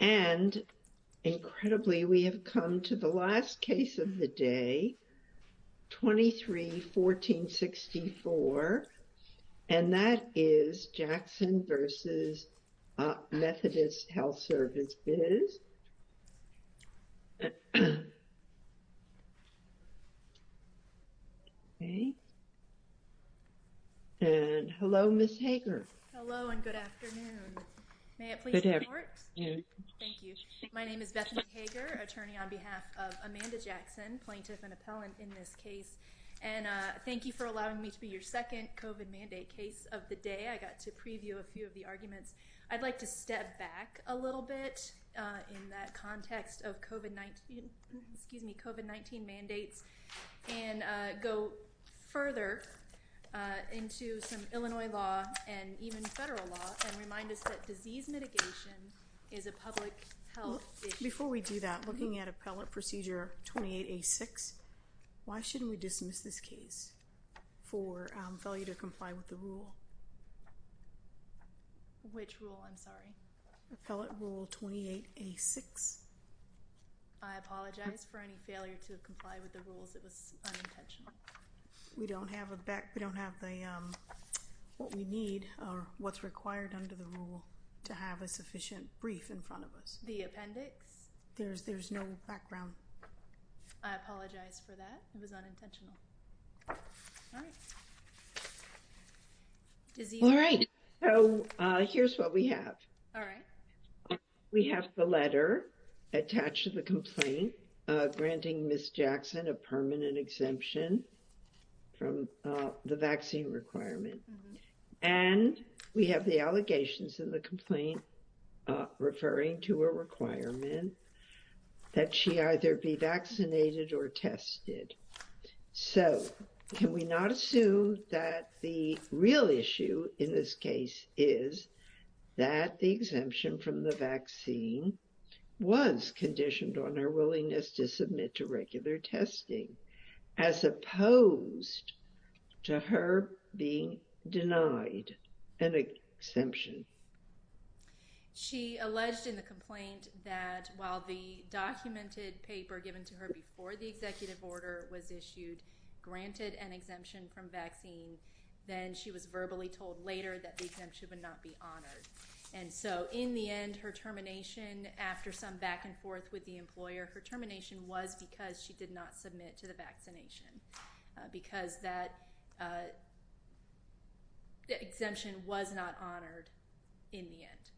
And, incredibly, we have come to the last case of the day, 23-14-64, and that is Jackson v. Methodist Health Services. And hello, Ms. Hager. Hello, and good afternoon. May it please the court? Thank you. My name is Bethany Hager, attorney on behalf of Amanda Jackson, plaintiff and appellant in this case, and thank you for allowing me to be your second COVID mandate case of the day. I got to preview a few of the arguments. I'd like to step back a little bit in that context of COVID-19, excuse me, further into some Illinois law and even federal law and remind us that disease mitigation is a public health issue. Before we do that, looking at Appellate Procedure 28A6, why shouldn't we dismiss this case for failure to comply with the rule? Which rule? I'm sorry. Appellate Rule 28A6. I apologize for any failure to comply with the rules. It was unintentional. We don't have what we need or what's required under the rule to have a sufficient brief in front of us. The appendix? There's no background. I apologize for that. It was unintentional. All right. So here's what we have. All right. We have the letter attached to the complaint granting Ms. Jackson a permanent exemption. From the vaccine requirement. And we have the allegations in the complaint referring to a requirement that she either be vaccinated or tested. So can we not assume that the real issue in this case is that the exemption from the vaccine was conditioned on her willingness to submit to regular testing as opposed to her being denied an exemption? She alleged in the complaint that while the documented paper given to her before the executive order was issued, granted an exemption from vaccine, then she was verbally told later that the exemption would not be honored. And so in the end, her termination after some back and forth with the government, she was not able to not submit to the vaccination because that exemption was not honored in the end.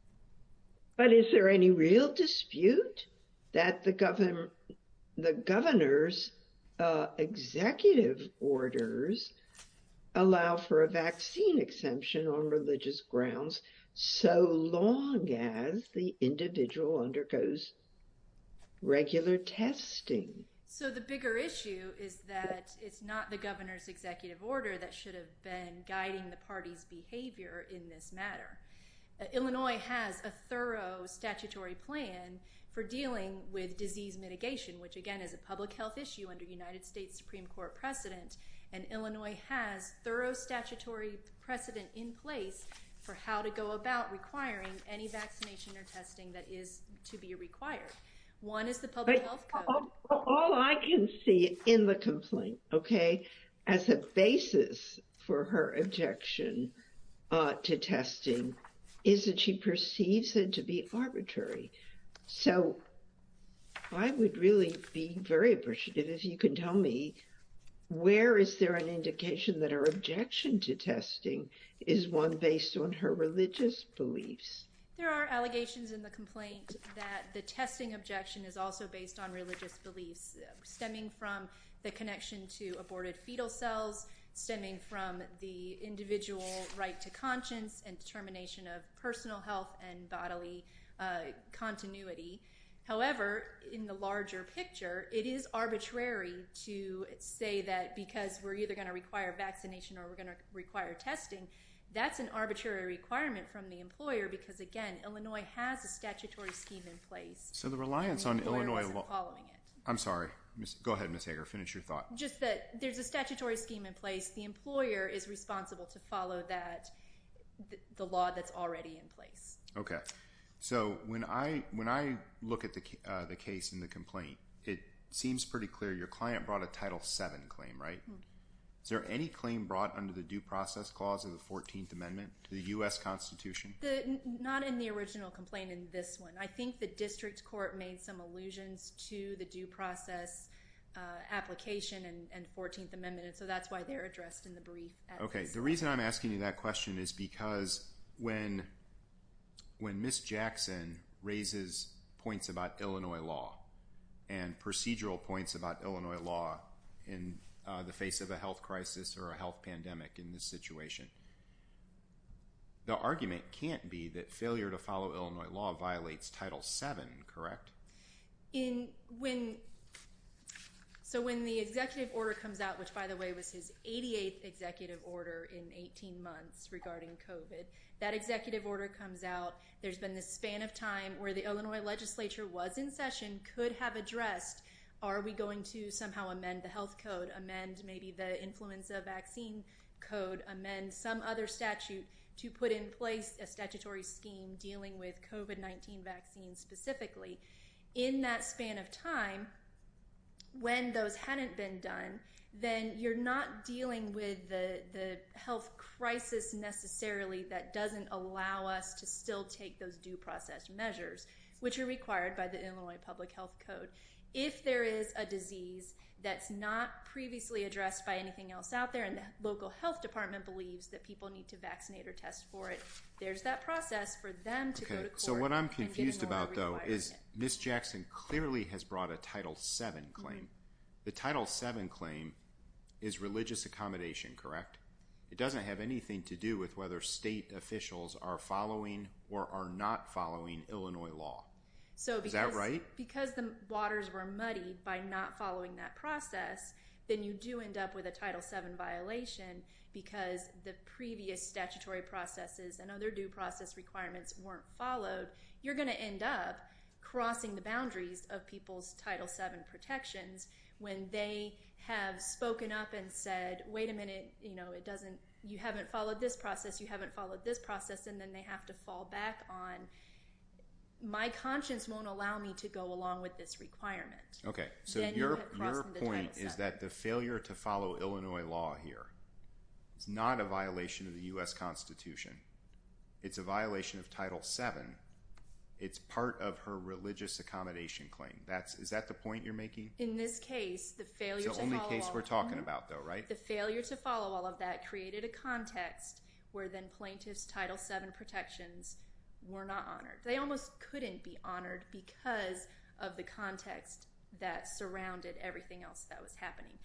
But is there any real dispute that the governor's executive orders allow for a vaccine exemption on religious grounds so long as the individual undergoes regular testing? So the bigger issue is that it's not the governor's executive order that should have been guiding the party's behavior in this matter. Illinois has a thorough statutory plan for dealing with disease mitigation, which again is a public health issue under United States Supreme Court precedent and Illinois has thorough statutory precedent in place for how to go about requiring any vaccination or testing that is to be required. One is the public health code. All I can see in the complaint, okay, as a basis for her objection to testing is that she perceives it to be arbitrary. So I would really be very appreciative if you can tell me where is there an indication that her objection to testing is one based on her religious beliefs. There are allegations in the complaint that the testing objection is also based on religious beliefs stemming from the connection to aborted fetal cells stemming from the individual right to conscience and determination of personal health and bodily continuity. However, in the larger picture, it is arbitrary to say that because we're either going to require vaccination or we're going to require testing. That's an arbitrary requirement from the employer because again, Illinois has a statutory scheme in place. So the reliance on Illinois law. I'm sorry. Go ahead Miss Hager finish your thought just that there's a statutory scheme in place. The employer is responsible to follow that the law that's already in place. Okay. So when I when I look at the case in the complaint, it seems pretty clear your client brought a title 7 claim, right? Is there any claim brought under the due process clause of the 14th Amendment to the US Constitution? Not in the original complaint in this one. I think the district court made some allusions to the due process application and 14th Amendment. And so that's why they're addressed in the brief. Okay. The reason I'm asking you that question is because when when Miss Jackson raises points about Illinois law and procedural points about Illinois law in the face of a health crisis or a health pandemic in this situation. The argument can't be that failure to follow Illinois law violates title 7, correct? In when so when the executive order comes out, which by the way was his 88th executive order in 18 months regarding COVID that executive order comes out. There's been this span of time where the Illinois legislature was in session could have addressed. Are we going to somehow amend the health code amend? Maybe the influenza vaccine code amend some other statute to put in place a statutory scheme dealing with COVID-19 vaccine specifically in that span of time when those hadn't been done, then you're not dealing with the health crisis necessarily that doesn't allow us to still take those due process measures which are required by the Illinois Public Health Code. If there is a disease that's not previously addressed by anything else out there and the local health department believes that people need to vaccinate or test for it. There's that process for them to go to court. So what I'm confused about though is Miss Jackson clearly has brought a title 7 claim. The title 7 claim is religious accommodation, correct? It doesn't have anything to do with whether state officials are following or are not following Illinois law. So because the waters were muddy by not following that process, then you do end up with a title 7 violation because the previous statutory processes and other due process requirements weren't followed. You're going to end up crossing the boundaries of people's title 7 protections when they have spoken up and said, wait a minute, you know, it doesn't you haven't followed this process. You haven't followed this process and then they have to fall back on My conscience won't allow me to go along with this requirement. Okay. So your point is that the failure to follow Illinois law here is not a violation of the US Constitution. It's a violation of title 7. It's part of her religious accommodation claim. That's is that the point you're making? In this case, the failure to follow all of that created a context where plaintiff's title 7 protections were not honored. They almost couldn't be honored because of the context that surrounded everything else that was happening.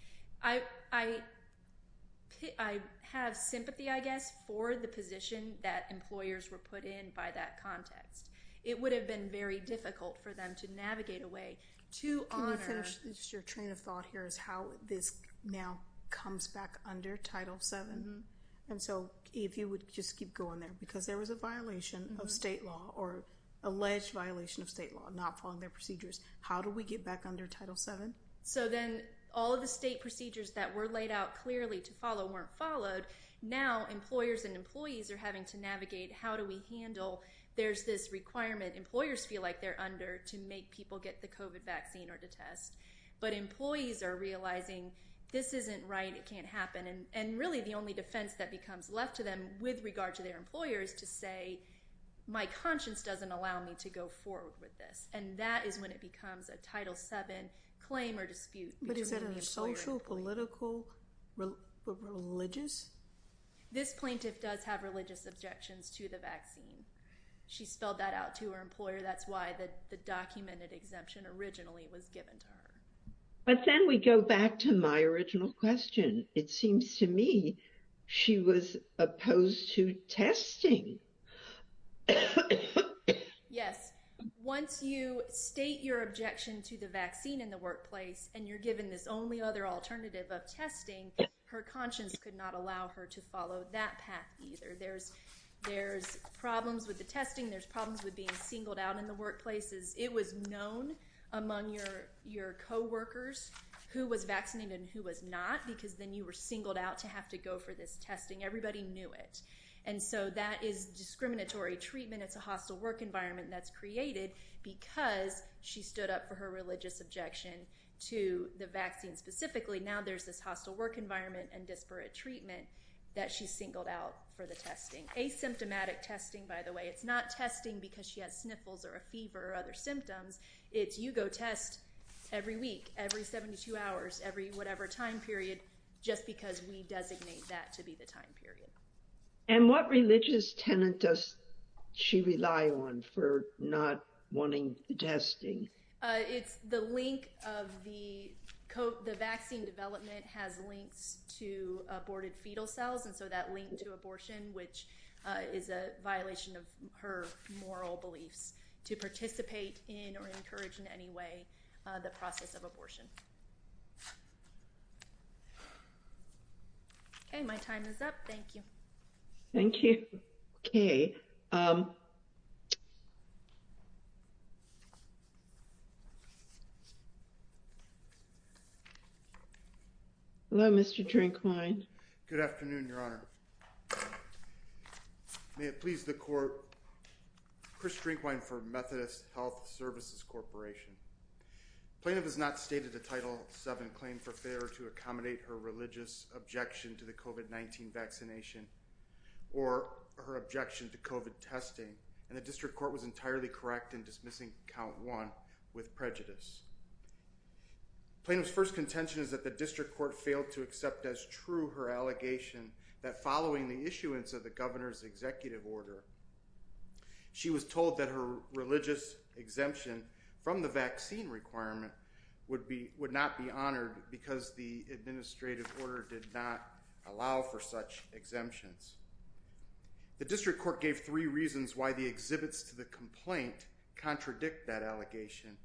I have sympathy, I guess, for the position that employers were put in by that context. It would have been very difficult for them to navigate a way to honor. Can you finish your train of thought here is how this now comes back under title 7. And so if you would just keep going there because there was a violation of state law or alleged violation of state law not following their procedures. How do we get back under title 7? So then all of the state procedures that were laid out clearly to follow weren't followed now employers and employees are having to navigate. How do we handle there's this requirement employers feel like they're under to make people get the covid vaccine or to test but employees are realizing this isn't right. It can't happen. And really the only defense that becomes left to them with regard to their employers to say my conscience doesn't allow me to go forward with this and that is when it becomes a title 7 claim or dispute. But is that a social political religious? This plaintiff does have religious objections to the vaccine. She spelled that out to her employer. That's why the documented exemption originally was given to her. But then we go back to my original question. It seems to me she was opposed to testing. Yes, once you state your objection to the vaccine in the workplace and you're given this only other alternative of testing her conscience could not allow her to follow that path either. There's there's problems with the testing. There's problems with being singled out in the workplaces. It was known among your your co-workers who was vaccinated and who was not because then you were singled out to have to go for this testing. Everybody knew it and so that is discriminatory treatment. It's a hostile work environment that's created because she stood up for her religious objection to the vaccine specifically. Now, there's this hostile work environment and disparate treatment that she singled out for the testing asymptomatic testing by the way, it's not testing because she has sniffles or a fever or other symptoms. It's you go test every week every 72 hours every whatever time period just because we designate that to be the time period and what religious tenant does she rely on for not wanting testing? It's the link of the coat. The vaccine development has links to aborted fetal cells. And so that link to abortion which is a violation of her moral beliefs to participate in or encourage in any way the process of abortion. Okay, my time is up. Thank you. Thank you. Okay. Hello, mr. Drink wine. Good afternoon, your honor. May it please the court. Chris drink wine for Methodist Health Services Corporation. Plaintiff has not stated a title 7 claim for fair to accommodate her religious objection to the covid-19 vaccination or her objection to covid testing and the district court was entirely correct in dismissing count one with prejudice plaintiffs. First contention is that the district court failed to accept as true her allegation that following the issuance of the governor's executive order. She was told that her religious exemption from the vaccine requirement would be would not be honored because the administrative order did not allow for such exemptions. The district court gave three reasons why the exhibits to the complaint contradict that allegation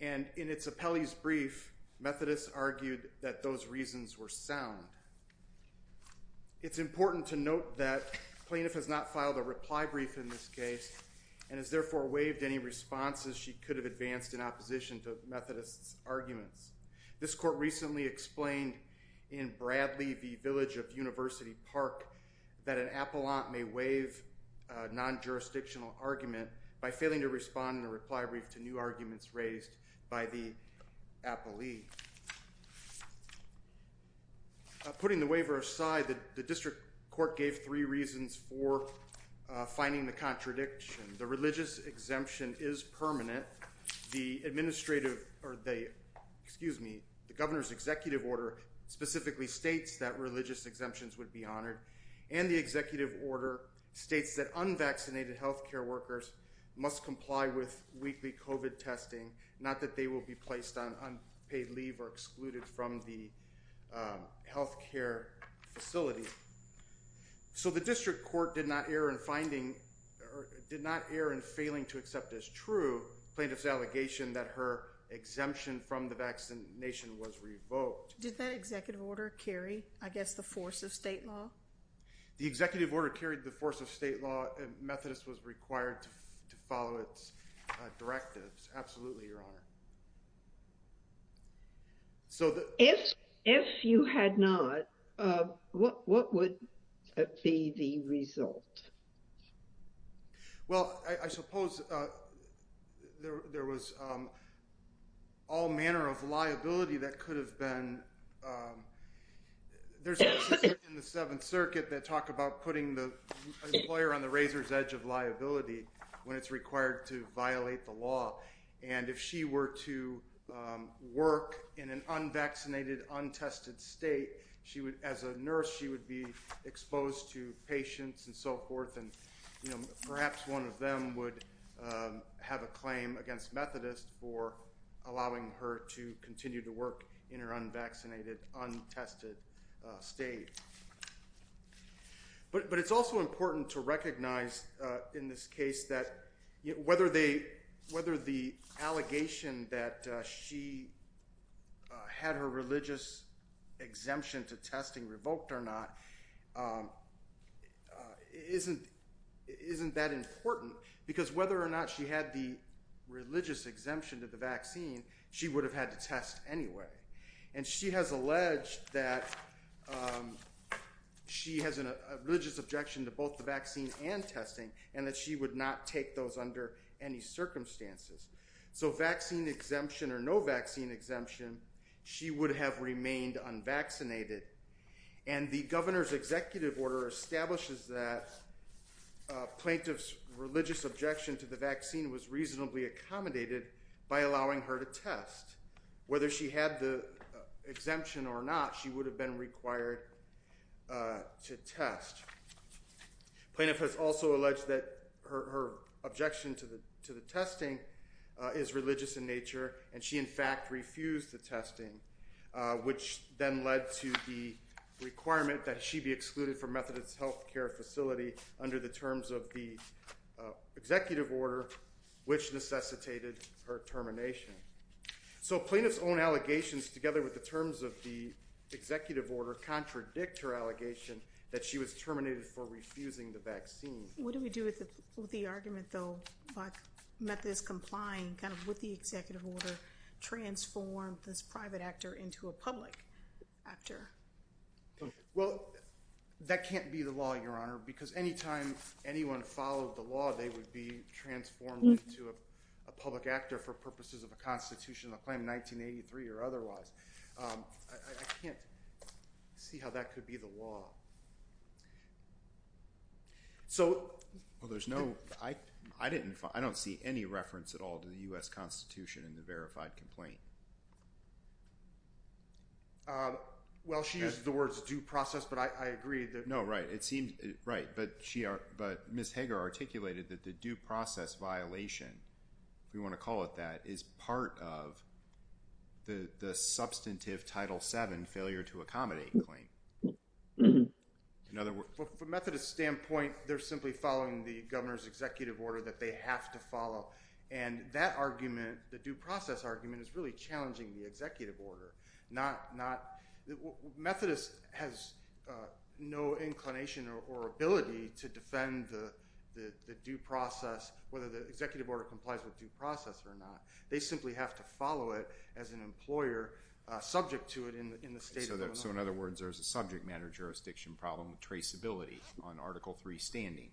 and in its appellees brief Methodist argued that those reasons were sound. It's important to note that plaintiff has not filed a reply brief in this case and is therefore waived any responses. She could have advanced in opposition to Methodist arguments. This court recently explained in Bradley the village of University Park that an appellant may waive non-jurisdictional argument by failing to respond in a reply brief to new arguments raised by the appellee. Putting the waiver aside the district court gave three reasons for finding the contradiction. The religious exemption is permanent the administrative or they excuse me, the governor's executive order specifically States that religious exemptions would be honored and the executive order States that unvaccinated health care workers must comply with weekly covid testing not that they will be placed on unpaid leave or excluded from the health care facility. So the district court did not err in finding or did not err in failing to accept this true plaintiffs allegation that her exemption from the vaccination was revoked. Did that executive order carry? I guess the force of state law the executive order carried the force of state law and Methodist was required to follow its directives. Absolutely your honor. So the if if you had not what would be the result? Well, I suppose there was all manner of liability that could have been there's a 7th circuit that talk about putting the employer on the razor's edge of liability when it's required to violate the law and if she were to work in an unvaccinated untested state, she would as a nurse, she would be exposed to patients and so forth and you know, perhaps one of them would have a claim against Methodist for allowing her to continue to work in her unvaccinated untested state. But but it's also important to recognize in this case that whether they whether the allegation that she had her religious exemption to testing revoked or not isn't isn't that important because whether or not she had the religious exemption to the vaccine she would have had to test anyway, and she has alleged that she has a religious objection to both the vaccine and testing and that she would not take those under any circumstances. So vaccine exemption or no vaccine exemption. She would have remained unvaccinated and the governor's executive order establishes that plaintiff's religious objection to the vaccine was reasonably accommodated by allowing her to test whether she had the exemption or not. She would have been required to test. Plaintiff has also alleged that her objection to the to the testing is religious in nature and she in fact refused the testing which then led to the requirement that she be excluded from Methodist health care facility under the terms of the executive order which necessitated her termination. So plaintiff's own allegations together with the terms of the executive order contradict her allegation that she was terminated for refusing the vaccine. What do we do with the argument though, but Methodist complying kind of with the executive order transform this private actor into a public actor? Well, that can't be the law your honor because anytime anyone followed the law they would be transformed into a public actor for purposes of a See how that could be the law. So there's no I I didn't I don't see any reference at all to the US Constitution in the verified complaint. Well, she is the words due process, but I agree that no right it seems right but she are but Miss Hager articulated that the due process violation we want to call it that is part of the substantive title 7 failure to accommodate claim. In other words for Methodist standpoint. They're simply following the governor's executive order that they have to follow and that argument the due process argument is really challenging the executive order not not Methodist has no inclination or ability to defend the due process whether the executive order complies with due process or not. They simply have to follow it as an employer subject to it in the state of Illinois. So in other words, there's a subject matter jurisdiction problem traceability on article 3 standing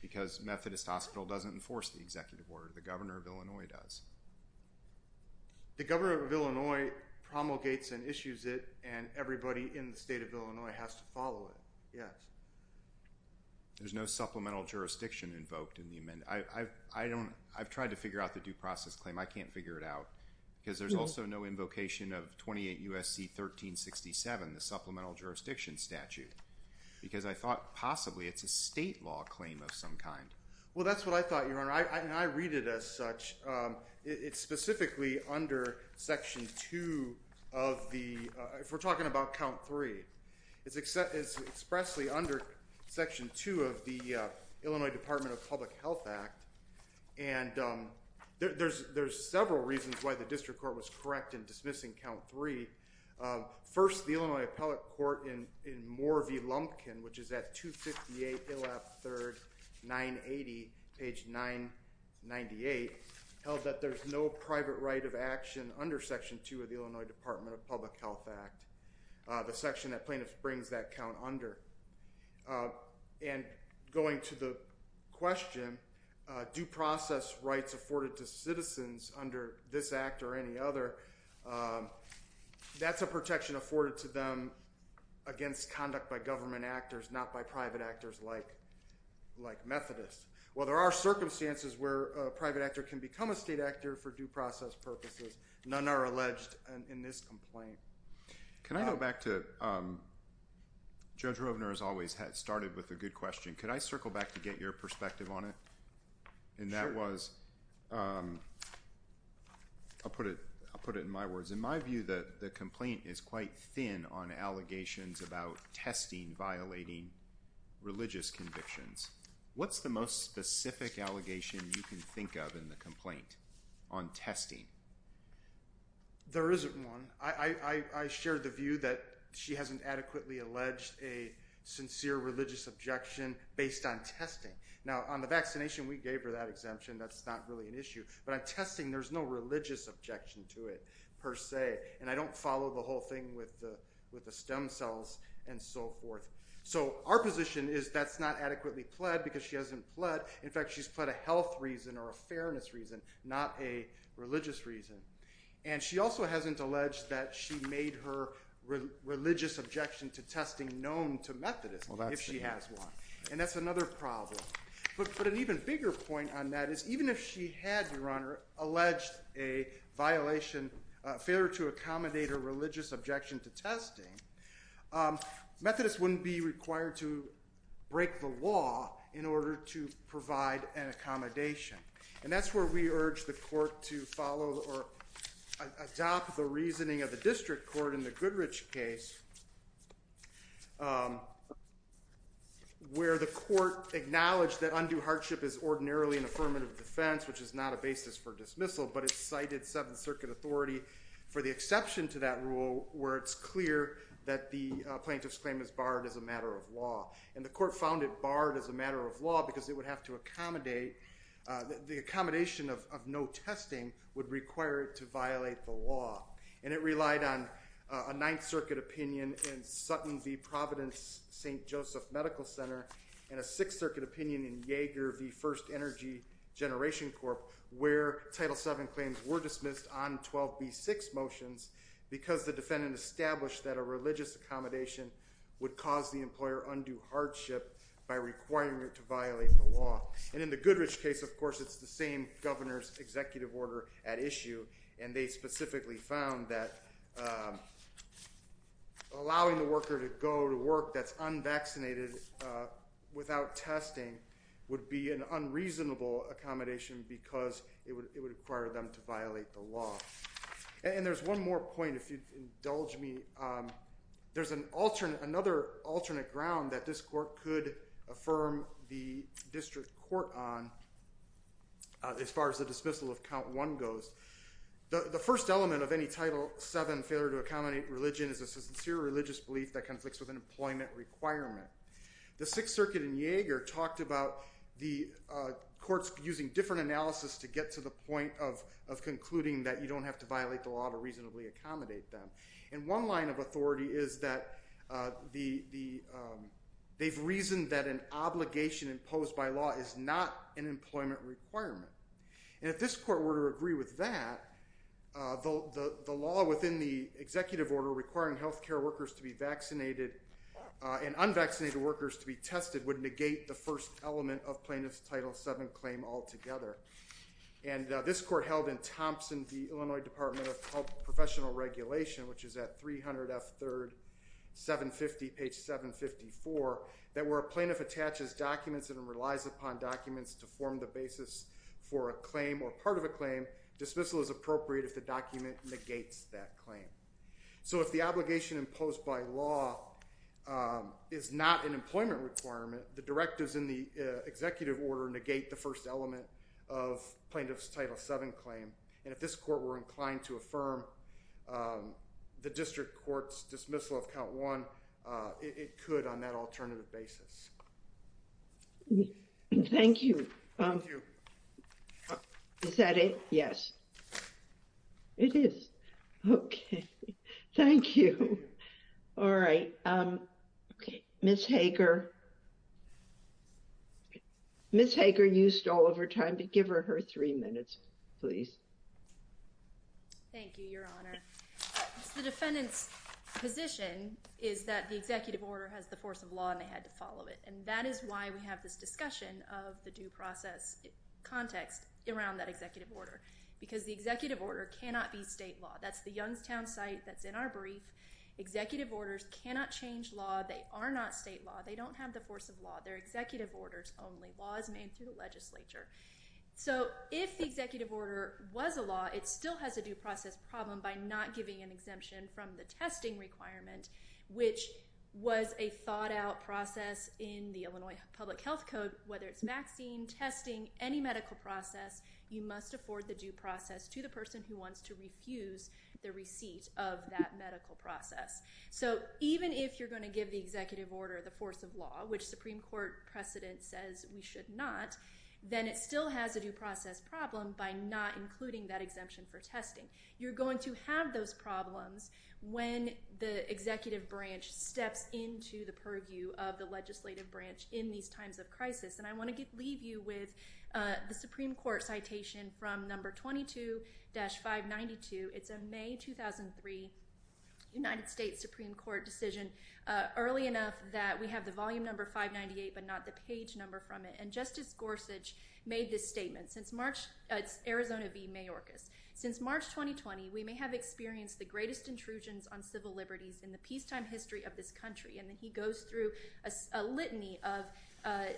because Methodist Hospital doesn't enforce the executive order the governor of Illinois does. The governor of Illinois promulgates and issues it and everybody in the state of Illinois has to follow it. Yes. There's no supplemental jurisdiction invoked in the amendment. I I don't I've tried to figure out the due process claim. I can't figure it out because there's also no invocation of 28 USC 1367 the supplemental jurisdiction statute because I thought possibly it's a state law claim of some kind. Well, that's what I thought your honor. I read it as such. It's specifically under section 2 of the if we're talking about count 3 it's except it's expressly under section 2 of the Illinois Department of Public Health Act and there's there's several reasons why the district court was correct in dismissing count 3. First the Illinois appellate court in in Moorview Lumpkin, which is at 258 Illap third 980 page 998 held that there's no private right of action under section 2 of the Illinois Department of Public Health Act the section that plaintiffs brings that count under and going to the question due process rights afforded to citizens under this act or any other. That's a protection afforded to them against conduct by government actors not by private actors like like Methodist. Well, there are circumstances where private actor can become a state actor for due process purposes. None are alleged in this complaint. Can I go back to Judge Rovner has always had started with a good question. Could I circle back to get your perspective on it? And that was I'll put it I'll put it in my words in my view that the complaint is quite thin on allegations about testing violating religious convictions. What's the most specific allegation you can think of in the complaint on testing? There isn't one. I shared the view that she hasn't adequately alleged a sincere religious objection based on testing now on the vaccination. We gave her that exemption. That's not really an issue, but I'm testing there's no religious objection to it per se and I don't follow the whole thing with the with the stem cells and so forth. So our position is that's not adequately pled because she hasn't pled. In fact, she's put a health reason or a fairness reason not a religious reason and she also hasn't alleged that she made her religious objection to testing known to Methodist if she has one and that's another problem, but put an even bigger point on that is even if she had your honor alleged a violation failure to accommodate her religious objection to testing Methodist wouldn't be required to break the law in order to provide an accommodation and that's where we urge the court to follow or adopt the reasoning of the district court in the Goodrich case. Where the court acknowledged that undue hardship is ordinarily an affirmative defense, which is not a basis for dismissal, but it's cited Seventh Circuit Authority for the exception to that rule where it's clear that the plaintiff's claim is barred as a matter of law and the court found it barred as a matter of law because it would have to accommodate the accommodation of no testing would require it to violate the law and it relied on a Ninth Circuit opinion in Sutton V. Providence st. Joseph Medical Center and a Sixth Circuit opinion in Jaeger V. First Energy Generation Corp where title 7 claims were dismissed on 12 B6 motions because the defendant established that a religious accommodation would cause the employer undue hardship by requiring it to violate the law and in the Goodrich case, of course, it's the same governor's executive order at issue and they specifically found that allowing the worker to go to work that's unvaccinated without testing would be an unreasonable accommodation because it would require them to violate the law and there's one more point if you indulge me, there's an alternate another alternate ground that this court could affirm the district court on. As far as the dismissal of count one goes the first element of any title 7 failure to accommodate religion is a sincere religious belief that conflicts with an employment requirement. The Sixth Circuit in Jaeger talked about the courts using different analysis to get to the point of of concluding that you don't have to violate the law to reasonably accommodate them and one line of authority is that the the they've reasoned that an obligation imposed by law is not an employment requirement and if this court were to agree with that though the the law within the executive order requiring health care workers to be vaccinated and unvaccinated workers to be tested would negate the first element of plaintiff's title 7 claim altogether and this court held in Thompson the Illinois Department of Health professional regulation, which is at 300 F 3rd 750 page 754 that were a plaintiff attaches documents and relies upon documents to form the basis for a claim or part of a claim dismissal is appropriate if document negates that claim so if the obligation imposed by law is not an employment requirement the directives in the executive order negate the first element of plaintiff's title 7 claim and if this court were inclined to affirm the district courts dismissal of count one it could on that it is okay thank you all right miss Hager miss Hager used all of her time to give her her three minutes please the defendant's position is that the executive order has the force of law and they had to follow it and that is why we have this discussion of the due process context around that executive order because the executive order cannot be state law that's the Youngstown site that's in our brief executive orders cannot change law they are not state law they don't have the force of law their executive orders only laws made through the legislature so if the executive order was a law it still has a due process problem by not giving an exemption from the testing requirement which was a thought-out process in the Illinois Public Health Code whether it's the due process to the person who wants to refuse the receipt of that medical process so even if you're going to give the executive order the force of law which Supreme Court precedent says we should not then it still has a due process problem by not including that exemption for testing you're going to have those problems when the executive branch steps into the purview of the legislative branch in these times of crisis and I want to get leave you with the Supreme Court citation from number 22-592 it's a May 2003 United States Supreme Court decision early enough that we have the volume number 598 but not the page number from it and Justice Gorsuch made this statement since March it's Arizona be Mayorkas since March 2020 we may have experienced the greatest intrusions on civil liberties in the peacetime history of this country and then he goes through a litany of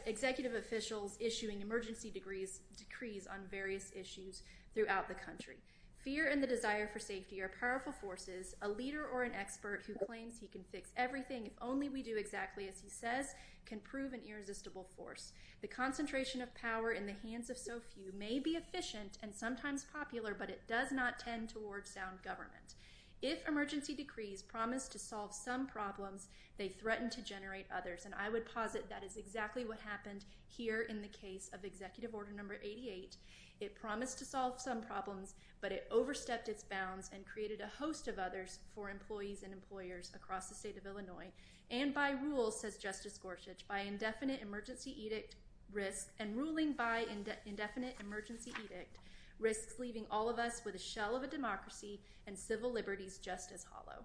executive officials issuing emergency degrees decrees on various issues throughout the country fear and the desire for safety are powerful forces a leader or an expert who claims he can fix everything if only we do exactly as he says can prove an irresistible force the concentration of power in the hands of so few may be efficient and sometimes popular but it does not tend towards sound government if emergency decrees promise to solve some problems they threaten to generate others and I would posit that is exactly what happened here in the case of executive order number 88 it promised to solve some problems but it overstepped its bounds and created a host of others for employees and employers across the state of Illinois and by rule says Justice Gorsuch by indefinite emergency edict risk and ruling by indefinite emergency edict risks leaving all of us with a shell of a democracy and civil liberties just as hollow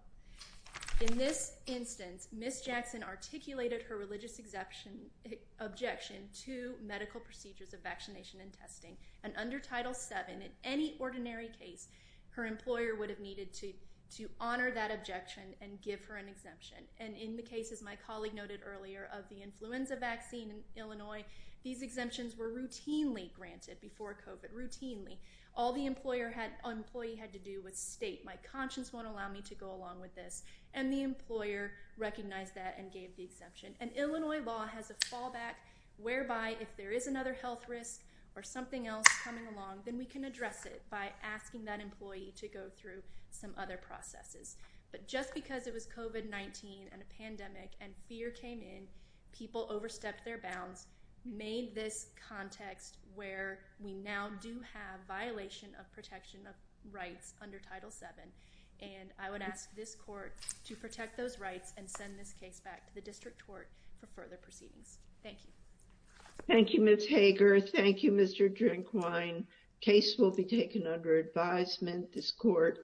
in this instance miss Jackson articulated her religious exemption objection to medical procedures of vaccination and testing and under title 7 in any ordinary case her employer would have needed to to honor that objection and give her an exemption and in the case is my colleague noted earlier of the influenza vaccine in Illinois these exemptions were routinely granted before covid routinely all the employer had employee had to do with state my conscience won't recognize that and gave the exemption and Illinois law has a fallback whereby if there is another health risk or something else coming along then we can address it by asking that employee to go through some other processes but just because it was covid-19 and a pandemic and fear came in people overstepped their bounds made this context where we now do have violation of protection of and I would ask this court to protect those rights and send this case back to the district court for further proceedings thank you thank you miss Hager thank you mr. drink wine case will be taken under advisement this court